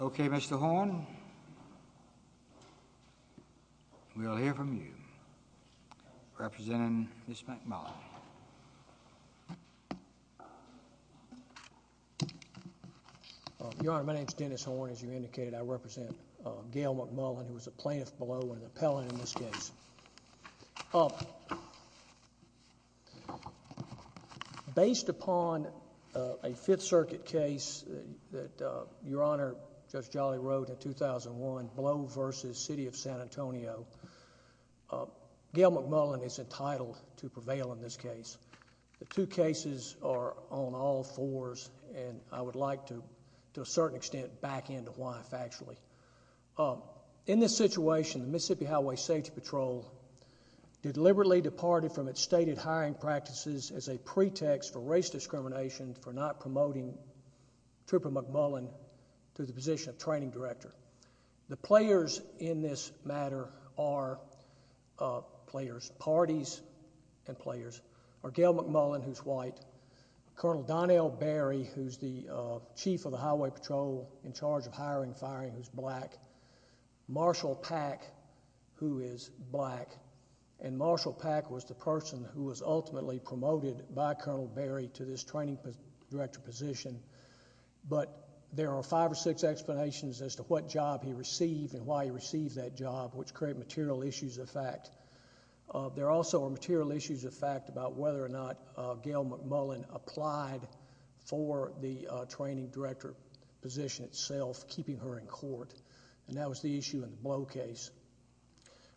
Okay, Mr. Horne. We'll hear from you. Representing Ms. McMullin. Your Honor, my name is Dennis Horne. As you indicated, I represent Gale McMullin, who based upon a Fifth Circuit case that Your Honor, Judge Jolly, wrote in 2001, Blow v. City of San Antonio, Gale McMullin is entitled to prevail in this case. The two cases are on all fours, and I would like to, to a certain extent, back into life, actually. In this situation, the Mississippi Highway Safety Patrol deliberately departed from its stated hiring practices as a pretext for race discrimination for not promoting Trooper McMullin to the position of Training Director. The players in this matter are, players, parties and players, are Gale McMullin, who's white, Colonel Donnell Berry, who's the Chief of the Highway Patrol in charge of hiring and firing, who's black, Marshall Pack, who is black, and Marshall Pack was the person who was ultimately promoted by Colonel Berry to this Training Director position, but there are five or six explanations as to what job he received and why he received that job, which create material issues of fact. There also are material issues of fact about whether or not Gale McMullin applied for the Training Director position itself, keeping her in court, and that was the issue in the Blow case.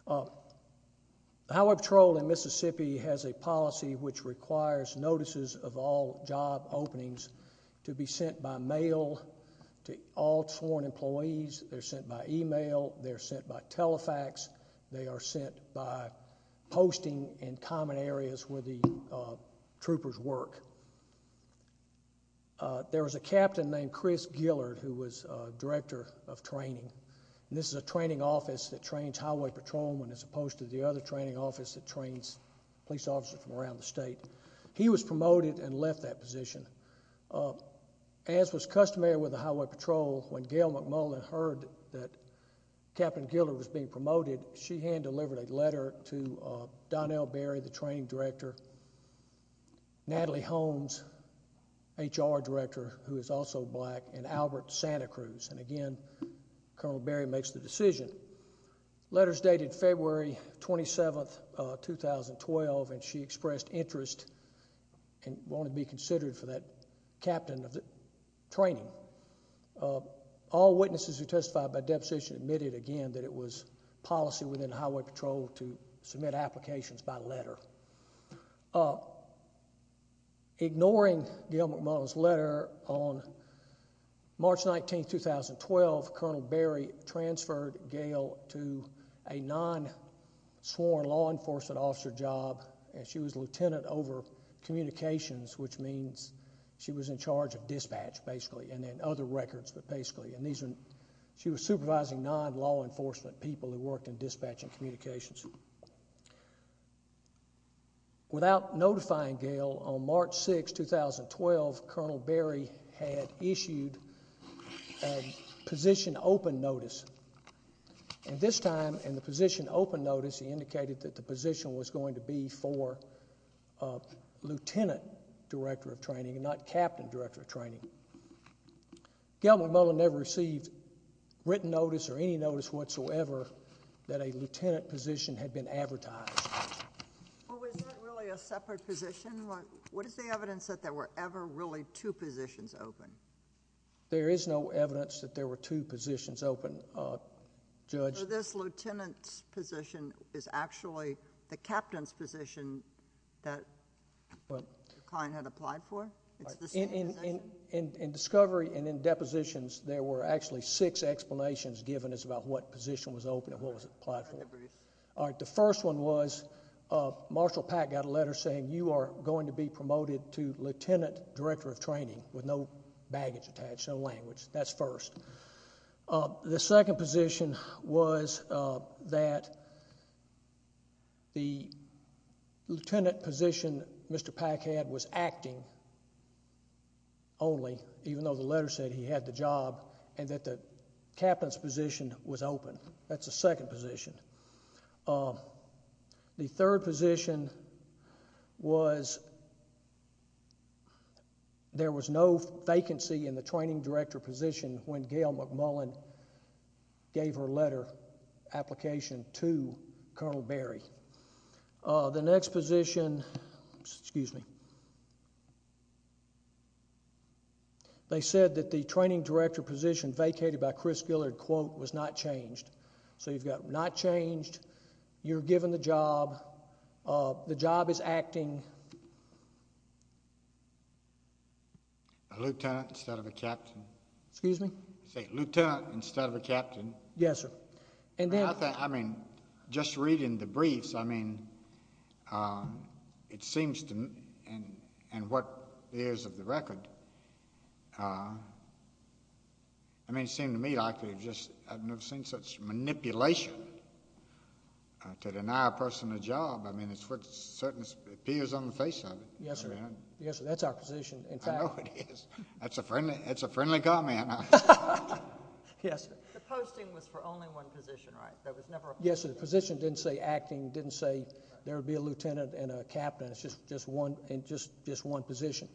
The Highway Patrol in Mississippi has a policy which requires notices of all job openings to be sent by mail to all sworn employees. They're sent by email. They're sent by telefax. They are sent by posting in common areas where the troopers work. There was a captain named Chris Gillard who was Director of Training, and this is a training office that trains highway patrolmen as opposed to the other training office that trains police officers from around the state. He was promoted and left that position. As was customary with the Highway Patrol, when Gale McMullin heard that Captain Gillard was being promoted, she hand-delivered a letter to Donnell Berry, the Training Director, Natalie Holmes, HR Director, who is also black, and Albert Santa Cruz, and again, Colonel Berry makes the decision. The letter is dated February 27, 2012, and she expressed interest and wanted to be considered for that captain of the training. All witnesses who testified by deposition admitted again that it was policy within Highway Patrol to submit applications by letter. Ignoring Gale McMullin's letter, on March 19, 2012, Colonel Berry transferred Gale to a non-sworn law enforcement officer job, and she was lieutenant over communications, which means she was in charge of dispatch, basically, and then other records, but basically, and these are, she was supervising non-law enforcement people who worked in dispatch and communications. Without notifying Gale, on March 6, 2012, Colonel Berry had issued a position open notice, and this time, in the position open notice, he indicated that the position was going to be for a lieutenant director of training and not captain director of training. Gale McMullin never received written notice or any notice whatsoever that a lieutenant position had been advertised. Well, was that really a separate position? What is the evidence that there were ever really two positions open? There is no evidence that there were two positions open, Judge. So this lieutenant's position is actually the captain's position that the client had applied for? In discovery and in depositions, there were actually six explanations given as to what position was open and what was applied for. All right, the first one was Marshall Pack got a letter saying you are going to be promoted to lieutenant director of training with no baggage attached, no language. That's first. The second position was that the lieutenant position Mr. Pack had was acting only, even though the letter said he had the job, and that the captain's position was open. That's the second position. The third position was there was no vacancy in the training director position when Gale McMullin gave her letter application to Colonel Berry. The next position, excuse me, they said that the training director position vacated by You're given the job. The job is acting. A lieutenant instead of a captain? Excuse me? A lieutenant instead of a captain? Yes, sir. I mean, just reading the briefs, I mean, it seems to me, and what is of the record, it seems to me like I've never seen such manipulation to deny a person a job. I mean, it certainly appears on the face of it. Yes, sir. Yes, sir. That's our position. I know it is. That's a friendly comment. Yes, sir. The posting was for only one position, right? Yes, sir. The position didn't say acting, didn't say there would be a lieutenant and a captain. It's just one position.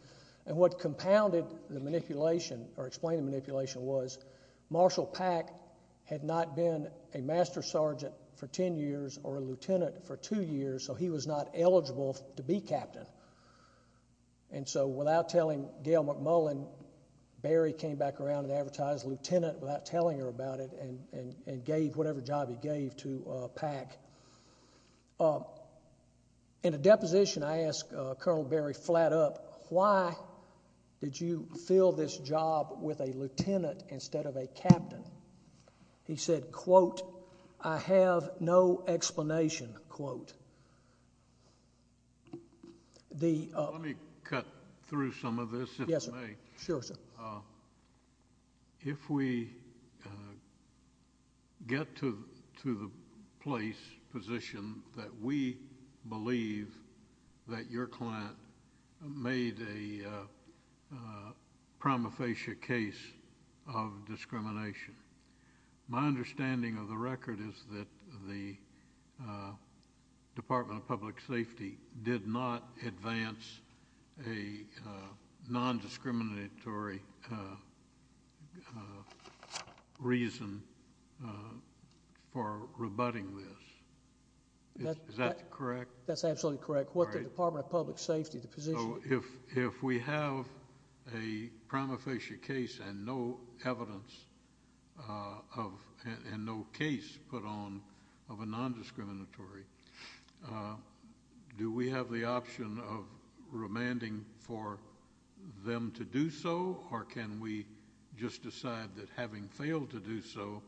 And what compounded the manipulation or explained the manipulation was Marshall Pack had not been a master sergeant for ten years or a lieutenant for two years, so he was not eligible to be captain. And so without telling Gale McMullin, Berry came back around and advertised lieutenant without telling her about it and gave whatever job he gave to Pack. In a deposition, I asked Colonel Berry flat up, why did you fill this job with a lieutenant instead of a captain? He said, quote, I have no explanation, quote. Let me cut through some of this, if I may. Yes, sir. Sure, sir. If we get to the place, position, that we believe that your client made a prima facie case of discrimination, my understanding of the record is that the prosecution has no reason for rebutting this. Is that correct? That's absolutely correct. What the Department of Public Safety, the position? So if we have a prima facie case and no evidence of, and no case put on of a criminal case, how can we just decide that having failed to do so,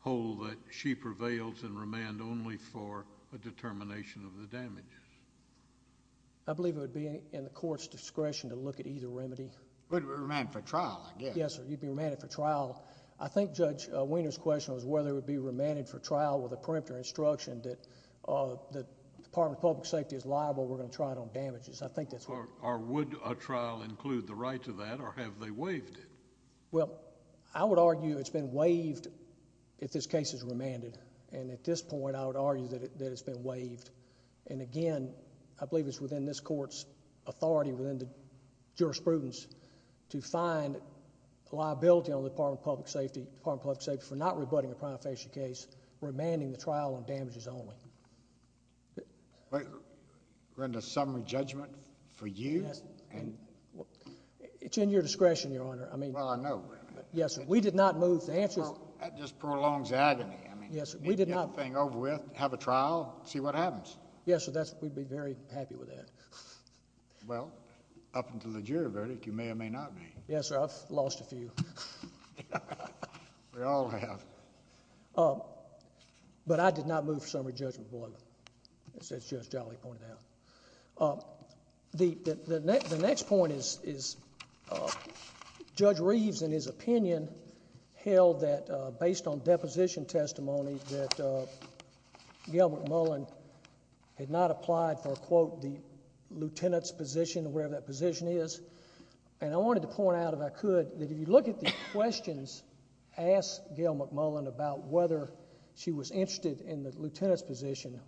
hold that she prevails and remand only for a determination of the damages? I believe it would be in the court's discretion to look at either remedy. Remand for trial, I guess. Yes, sir. You'd be remanded for trial. I think Judge Weiner's question was whether it would be remanded for trial with a preemptive instruction that the Department of Public Safety is liable, we're going to try it on damages. I think that's what... Or would a trial include the right to that or have they waived it? Well, I would argue it's been waived if this case is remanded. At this point, I would argue that it's been waived. Again, I believe it's within this court's authority within the jurisprudence to find liability on the Department of Public Safety for not rebutting a prima facie case, remanding the trial on damages only. Brenda, summary judgment for you? It's in your discretion, Your Honor. Well, I know, Brenda. Yes, sir. We did not move... That just prolongs agony. Yes, sir. We did not... You need to get the thing over with, have a trial, see what happens. Yes, sir. We'd be very happy with that. Well, up until the jury verdict, you may or may not be. Yes, sir. I've lost a few. We all have. But I did not move for summary judgment, Your Honor, as Judge Jolly pointed out. The next point is Judge Reeves, in his opinion, held that, based on deposition testimony, that Gail McMullen had not applied for, quote, the lieutenant's position or whatever that position is. And I wanted to point out, if I could, that if you look at the questions asked Gail McMullen about whether she was interested in the lieutenant's position,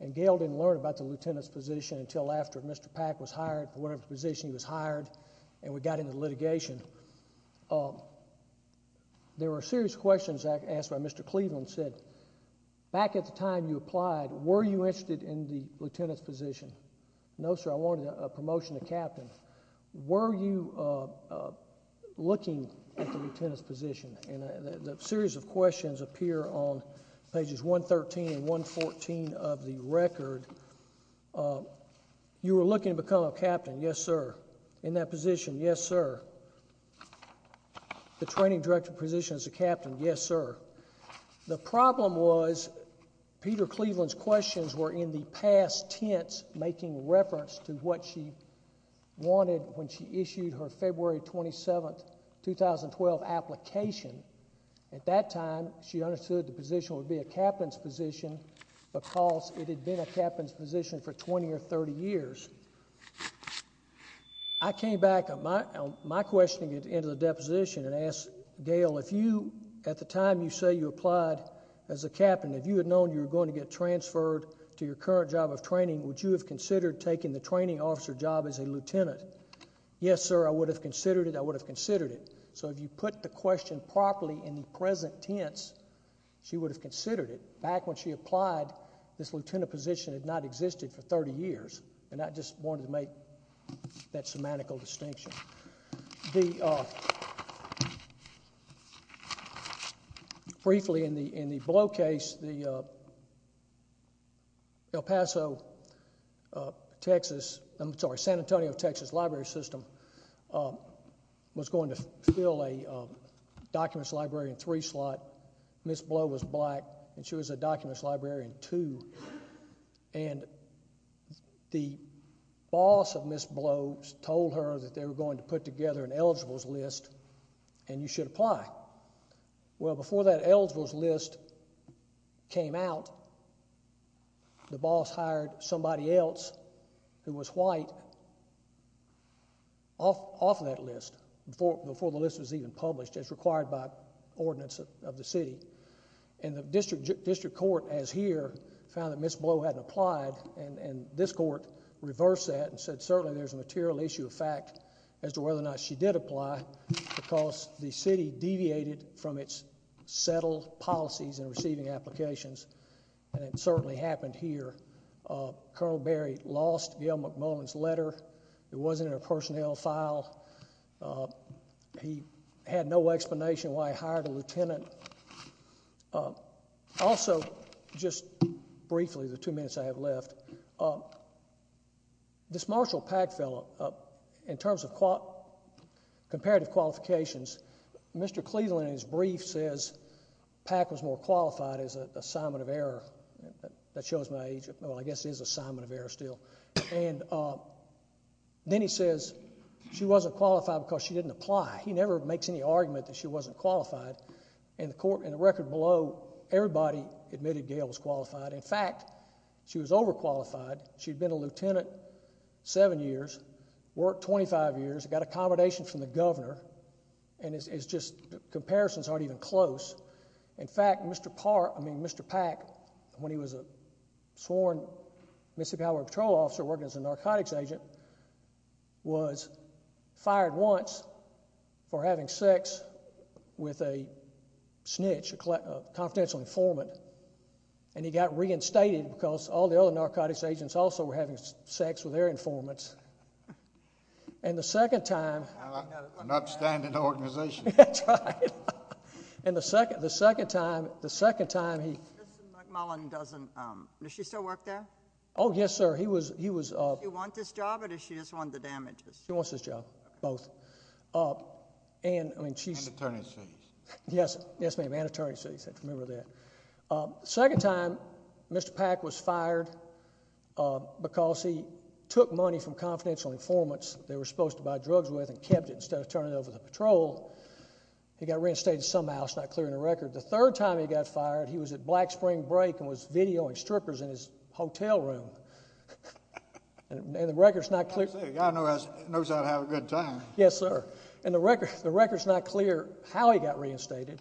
and Gail didn't learn about the lieutenant's position until after Mr. Pack was hired, whatever position he was hired, and we got into litigation. There were serious questions asked by Mr. Cleveland, said, back at the time you applied, were you interested in the lieutenant's position? No, sir. I wanted a promotion to captain. Were you looking at the lieutenant's position? And a series of questions appear on pages 113 and 114 of the record. You were looking to become a captain? Yes, sir. In that position? Yes, sir. The training director position as a captain? Yes, sir. The problem was Peter Cleveland's questions were in the past tense, making reference to what she wanted when she issued her February 27, 2012 application. At that time, she understood the position would be a captain's position because it had been a captain's position for 20 or 30 years. I came back on my questioning at the end of the deposition and asked Gail, at the time you say you applied as a captain, if you had known you were going to get transferred to your current job of training, would you have considered taking the training officer job as a lieutenant? Yes, sir. I would have considered it. I would have considered it. So if you put the question properly in the present tense, she would have considered it. Back when she applied, this lieutenant position had not existed for 30 years, and I just wanted to make that semantical distinction. Briefly, in the Blow case, the El Paso, Texas, I'm sorry, San Antonio, Texas library system was going to fill a documents library in three slots. Ms. Blow was black, and she was a documents library in two. And the boss of Ms. Blow told her that they were going to put together an eligibles list, and you should apply. Well, before that eligibles list came out, the boss hired somebody else who was white off of that list, before the list was even published, as required by ordinance of the city. And the district court, as here, found that Ms. Blow hadn't applied, and this court reversed that and said, certainly there's a material issue of fact as to whether or not she did apply, because the city deviated from its settled policies in receiving applications, and it certainly happened here. Colonel Berry lost Gil McMullen's letter. It wasn't in a personnel file. He had no explanation why he hired a lieutenant. Also, just briefly, the two minutes I have left, this Marshall Pack fellow, in terms of comparative qualifications, Mr. Cleveland, in his brief, says Pack was more qualified as an assignment of error. That shows my age. Well, I guess he is an assignment of error still. And then he says she wasn't qualified because she didn't apply. He never makes any argument that she wasn't qualified. In the record below, everybody admitted Gail was qualified. In fact, she was overqualified. She had been a lieutenant seven years, worked 25 years, got accommodation from the governor, and it's just comparisons aren't even close. In fact, Mr. Pack, when he was a sworn Mississippi Highway Patrol officer working as a narcotics agent, was fired once for having sex with a snitch, a confidential informant, and he got reinstated because all the other narcotics agents also were having sex with their informants. And the second time— An upstanding organization. That's right. And the second time he— Mr. McMullen doesn't—does she still work there? Oh, yes, sir. He was— Does she want this job or does she just want the damages? She wants this job, both. And, I mean, she's— And attorney's fees. Yes, ma'am, and attorney's fees. I remember that. The second time Mr. Pack was fired because he took money from confidential informants that they were supposed to buy drugs with and kept it instead of turning it over to the patrol. He got reinstated somehow. It's not clear in the record. The third time he got fired, he was at Black Spring Break and was videoing strippers in his hotel room. And the record's not clear— I'll tell you, a guy knows how to have a good time. Yes, sir. And the record's not clear how he got reinstated.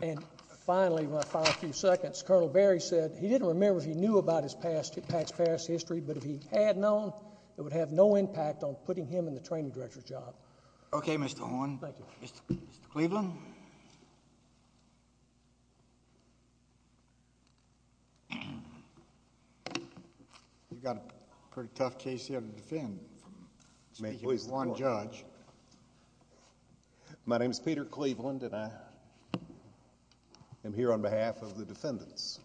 And finally, my final few seconds, Colonel Berry said he didn't remember if he knew about his past—Pack's past history, but if he had known, it would have no impact on putting him in the training director's job. Okay, Mr. Horne. Thank you. Mr. Cleveland. You've got a pretty tough case here to defend. Speaking as one judge. My name's Peter Cleveland, and I am here on behalf of the defendants.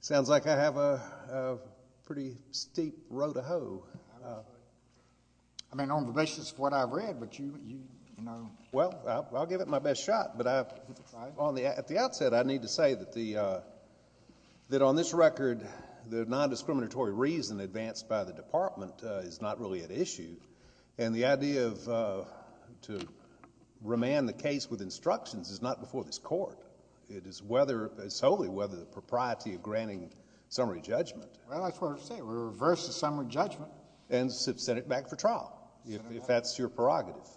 Sounds like I have a pretty steep row to hoe. I mean, on the basis of what I've read, but you— Well, I'll give it my best shot, but at the outset, I need to say that on this record, the non-discriminatory reason advanced by the department is not really at issue, and the idea to remand the case with instructions is not before this court. It is whether—solely whether the propriety of granting summary judgment— Well, that's what I'm saying. Reverse the summary judgment. And send it back for trial, if that's your prerogative.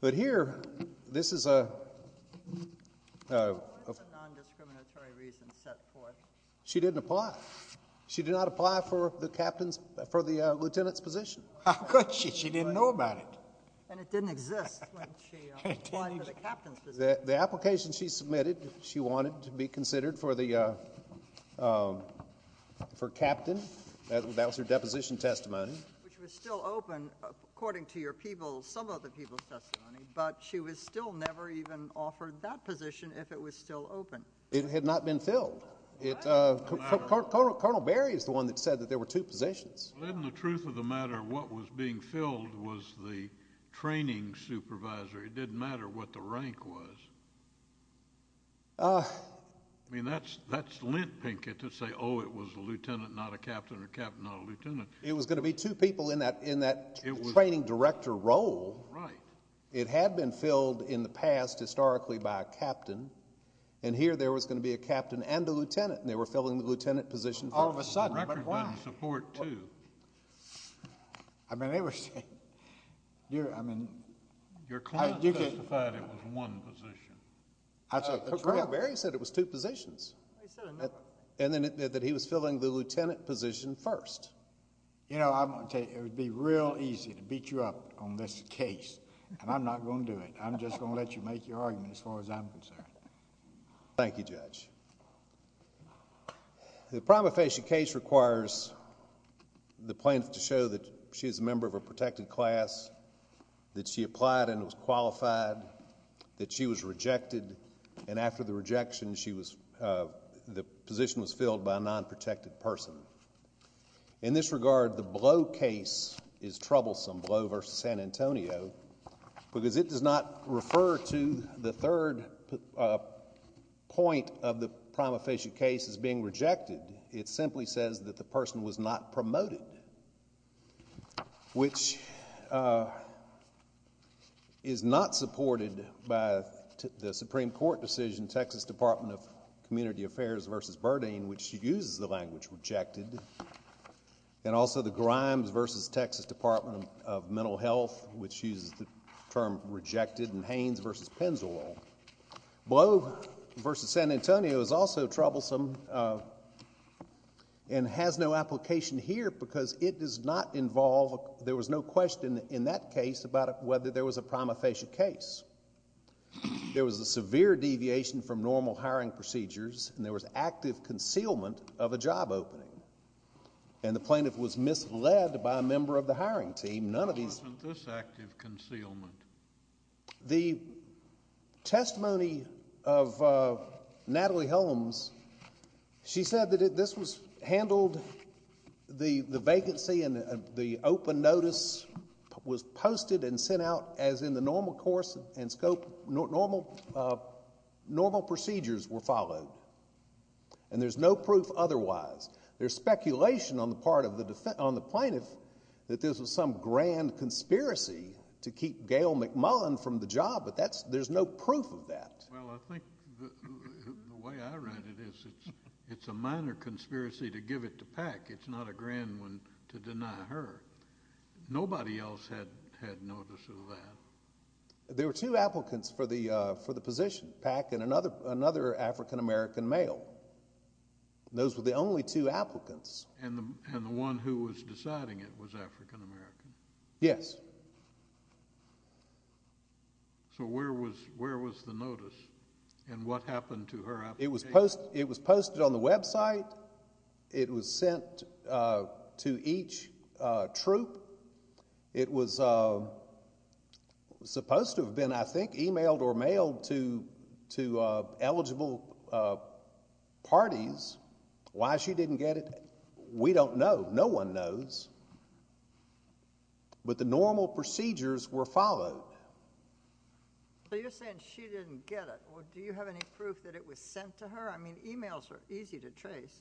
But here, this is a— What is the non-discriminatory reason set forth? She didn't apply. She did not apply for the captain's—for the lieutenant's position. How could she? And it didn't exist when she applied for the captain's position. The application she submitted, she wanted to be considered for the—for captain. That was her deposition testimony. Which was still open, according to your people—some other people's testimony, but she was still never even offered that position if it was still open. It had not been filled. What? Colonel Berry is the one that said that there were two positions. Well, isn't the truth of the matter what was being filled was the training supervisor? It didn't matter what the rank was. I mean, that's lint, Pinkett, to say, oh, it was a lieutenant, not a captain, or captain, not a lieutenant. It was going to be two people in that training director role. Right. It had been filled in the past, historically, by a captain, and here there was going to be a captain and a lieutenant, and they were filling the lieutenant position first. All of a sudden, but why? The record doesn't support two. I mean, it was— Your client testified it was one position. Colonel Berry said it was two positions. He said another. And that he was filling the lieutenant position first. You know, I'm going to tell you, it would be real easy to beat you up on this case, and I'm not going to do it. I'm just going to let you make your argument as far as I'm concerned. Thank you, Judge. The prima facie case requires the plaintiff to show that she is a member of a protected class, that she applied and was qualified, that she was rejected, and after the rejection, the position was filled by a non-protected person. In this regard, the Blow case is troublesome, Blow v. San Antonio, because it does not refer to the third point of the prima facie case as being rejected. It simply says that the person was not promoted, which is not supported by the Supreme Court decision, Texas Department of Community Affairs v. Burdine, which uses the language rejected, and also the Grimes v. Texas Department of Mental Health, which uses the term rejected, and Haines v. Pennzoil. Blow v. San Antonio is also troublesome and has no application here because it does not involve, there was no question in that case about whether there was a prima facie case. There was a severe deviation from normal hiring procedures, and there was active concealment of a job opening, and the plaintiff was misled by a member of the hiring team. None of these... There wasn't this active concealment. The testimony of Natalie Holmes, she said that this was handled, the vacancy and the open notice was posted and sent out as in the normal course and scope, normal procedures were followed, and there's no proof otherwise. There's speculation on the part of the plaintiff that this was some grand conspiracy to keep Gail McMullen from the job, but there's no proof of that. Well, I think the way I read it is it's a minor conspiracy to give it to Pack. It's not a grand one to deny her. Nobody else had notice of that. There were two applicants for the position, Pack and another African-American male. Those were the only two applicants. And the one who was deciding it was African-American? Yes. So where was the notice, and what happened to her application? It was posted on the website. It was sent to each troop. It was supposed to have been, I think, emailed or mailed to eligible parties. Why she didn't get it, we don't know. No one knows. But the normal procedures were followed. So you're saying she didn't get it. Do you have any proof that it was sent to her? I mean, emails are easy to trace.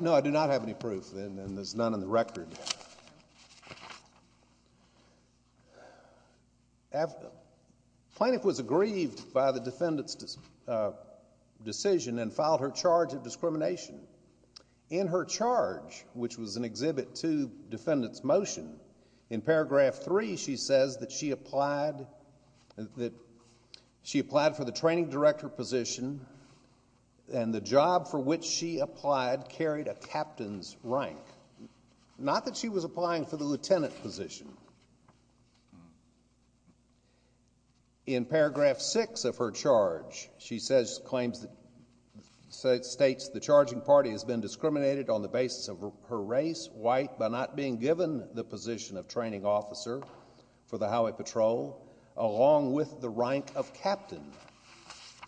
No, I do not have any proof, and there's none in the record. Plaintiff was aggrieved by the defendant's decision and filed her charge of discrimination. In her charge, which was an exhibit to defendant's motion, in paragraph three, she says that she applied for the training director position, and the job for which she applied carried a captain's rank. Not that she was applying for the lieutenant position. In paragraph six of her charge, she states the charging party has been discriminated on the basis of her race, white, by not being given the position of training officer for the highway patrol, along with the rank of captain.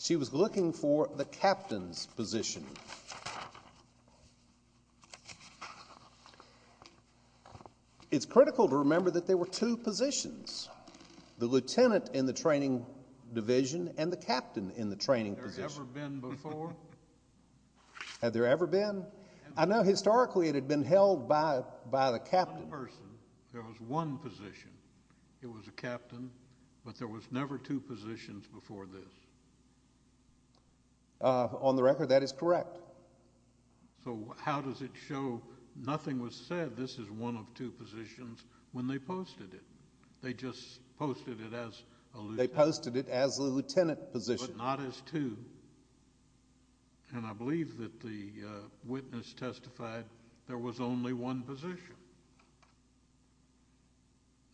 She was looking for the captain's position. It's critical to remember that there were two positions, the lieutenant in the training division and the captain in the training position. Had there ever been before? Had there ever been? I know historically it had been held by the captain. One person, there was one position. It was a captain, but there was never two positions before this. On the record, that is correct. So how does it show nothing was said, this is one of two positions, when they posted it? They just posted it as a lieutenant. They posted it as a lieutenant position. But not as two. And I believe that the witness testified there was only one position.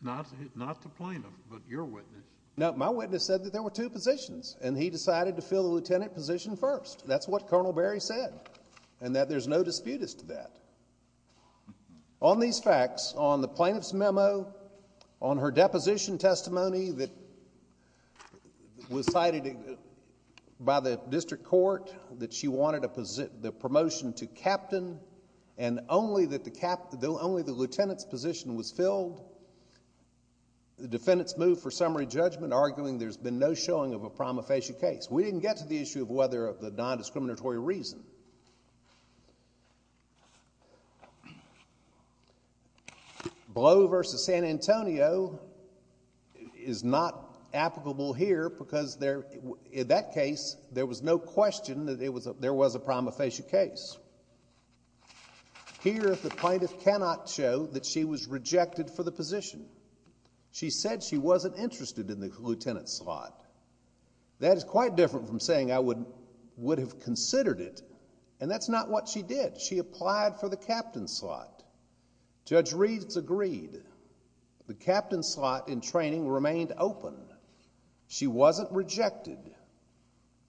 Not the plaintiff, but your witness. No, my witness said that there were two positions, and he decided to fill the lieutenant position first. That's what Colonel Berry said, and that there's no dispute as to that. On these facts, on the plaintiff's memo, on her deposition testimony that was cited by the district court, that she wanted the promotion to captain, and only the lieutenant's position was filled, the defendants moved for summary judgment, arguing there's been no showing of a prima facie case. We didn't get to the issue of whether of the non-discriminatory reason. Blow v. San Antonio is not applicable here, because in that case, there was no question that there was a prima facie case. Here, the plaintiff cannot show that she was rejected for the position. She said she wasn't interested in the lieutenant slot. That is quite different from saying I would have considered it, and that's not what she did. She applied for the captain slot. Judge Reeves agreed. The captain slot in training remained open. She wasn't rejected.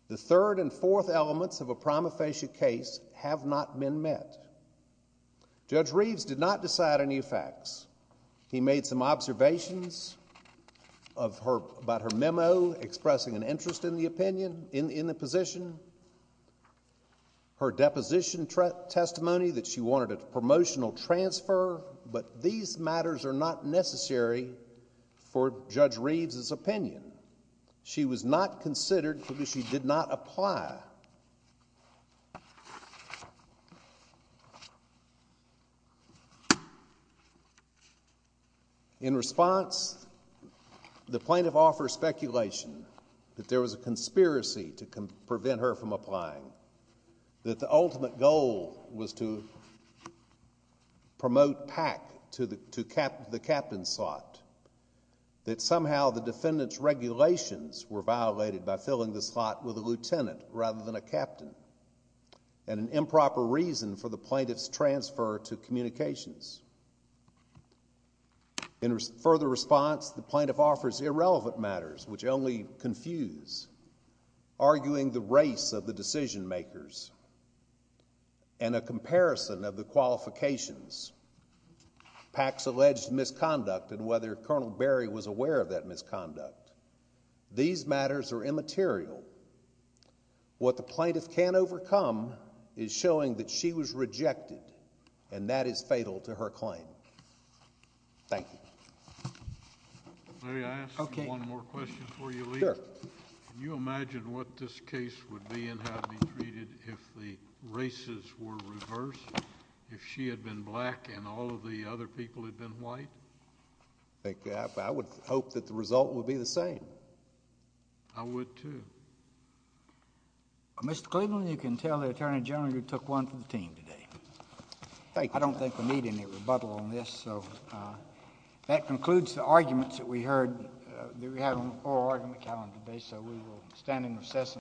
The third and fourth elements of a prima facie case have not been met. Judge Reeves did not decide any facts. He made some observations about her memo, expressing an interest in the position. Her deposition testimony that she wanted a promotional transfer, but these matters are not necessary for Judge Reeves' opinion. She was not considered because she did not apply. In response, the plaintiff offers speculation that there was a conspiracy to prevent her from applying, that the ultimate goal was to promote PAC to the captain slot, that somehow the defendant's regulations were violated by filling the slot with a lieutenant rather than a captain, and an improper reason for the plaintiff's transfer to communications. In further response, the plaintiff offers irrelevant matters, which only confuse, arguing the race of the decision makers and a comparison of the qualifications, PAC's alleged misconduct and whether Colonel Berry was aware of that misconduct. These matters are immaterial. What the plaintiff can't overcome is showing that she was rejected, and that is fatal to her claim. Thank you. Larry, I have one more question for you. Can you imagine what this case would be and how it would be treated if the races were reversed, if she had been black and all of the other people had been white? I would hope that the result would be the same. I would, too. Mr. Cleveland, you can tell the Attorney General you took one from the team today. I don't think we need any rebuttal on this. That concludes the arguments that we heard. We have an oral argument calendar today, so we will stand in recess.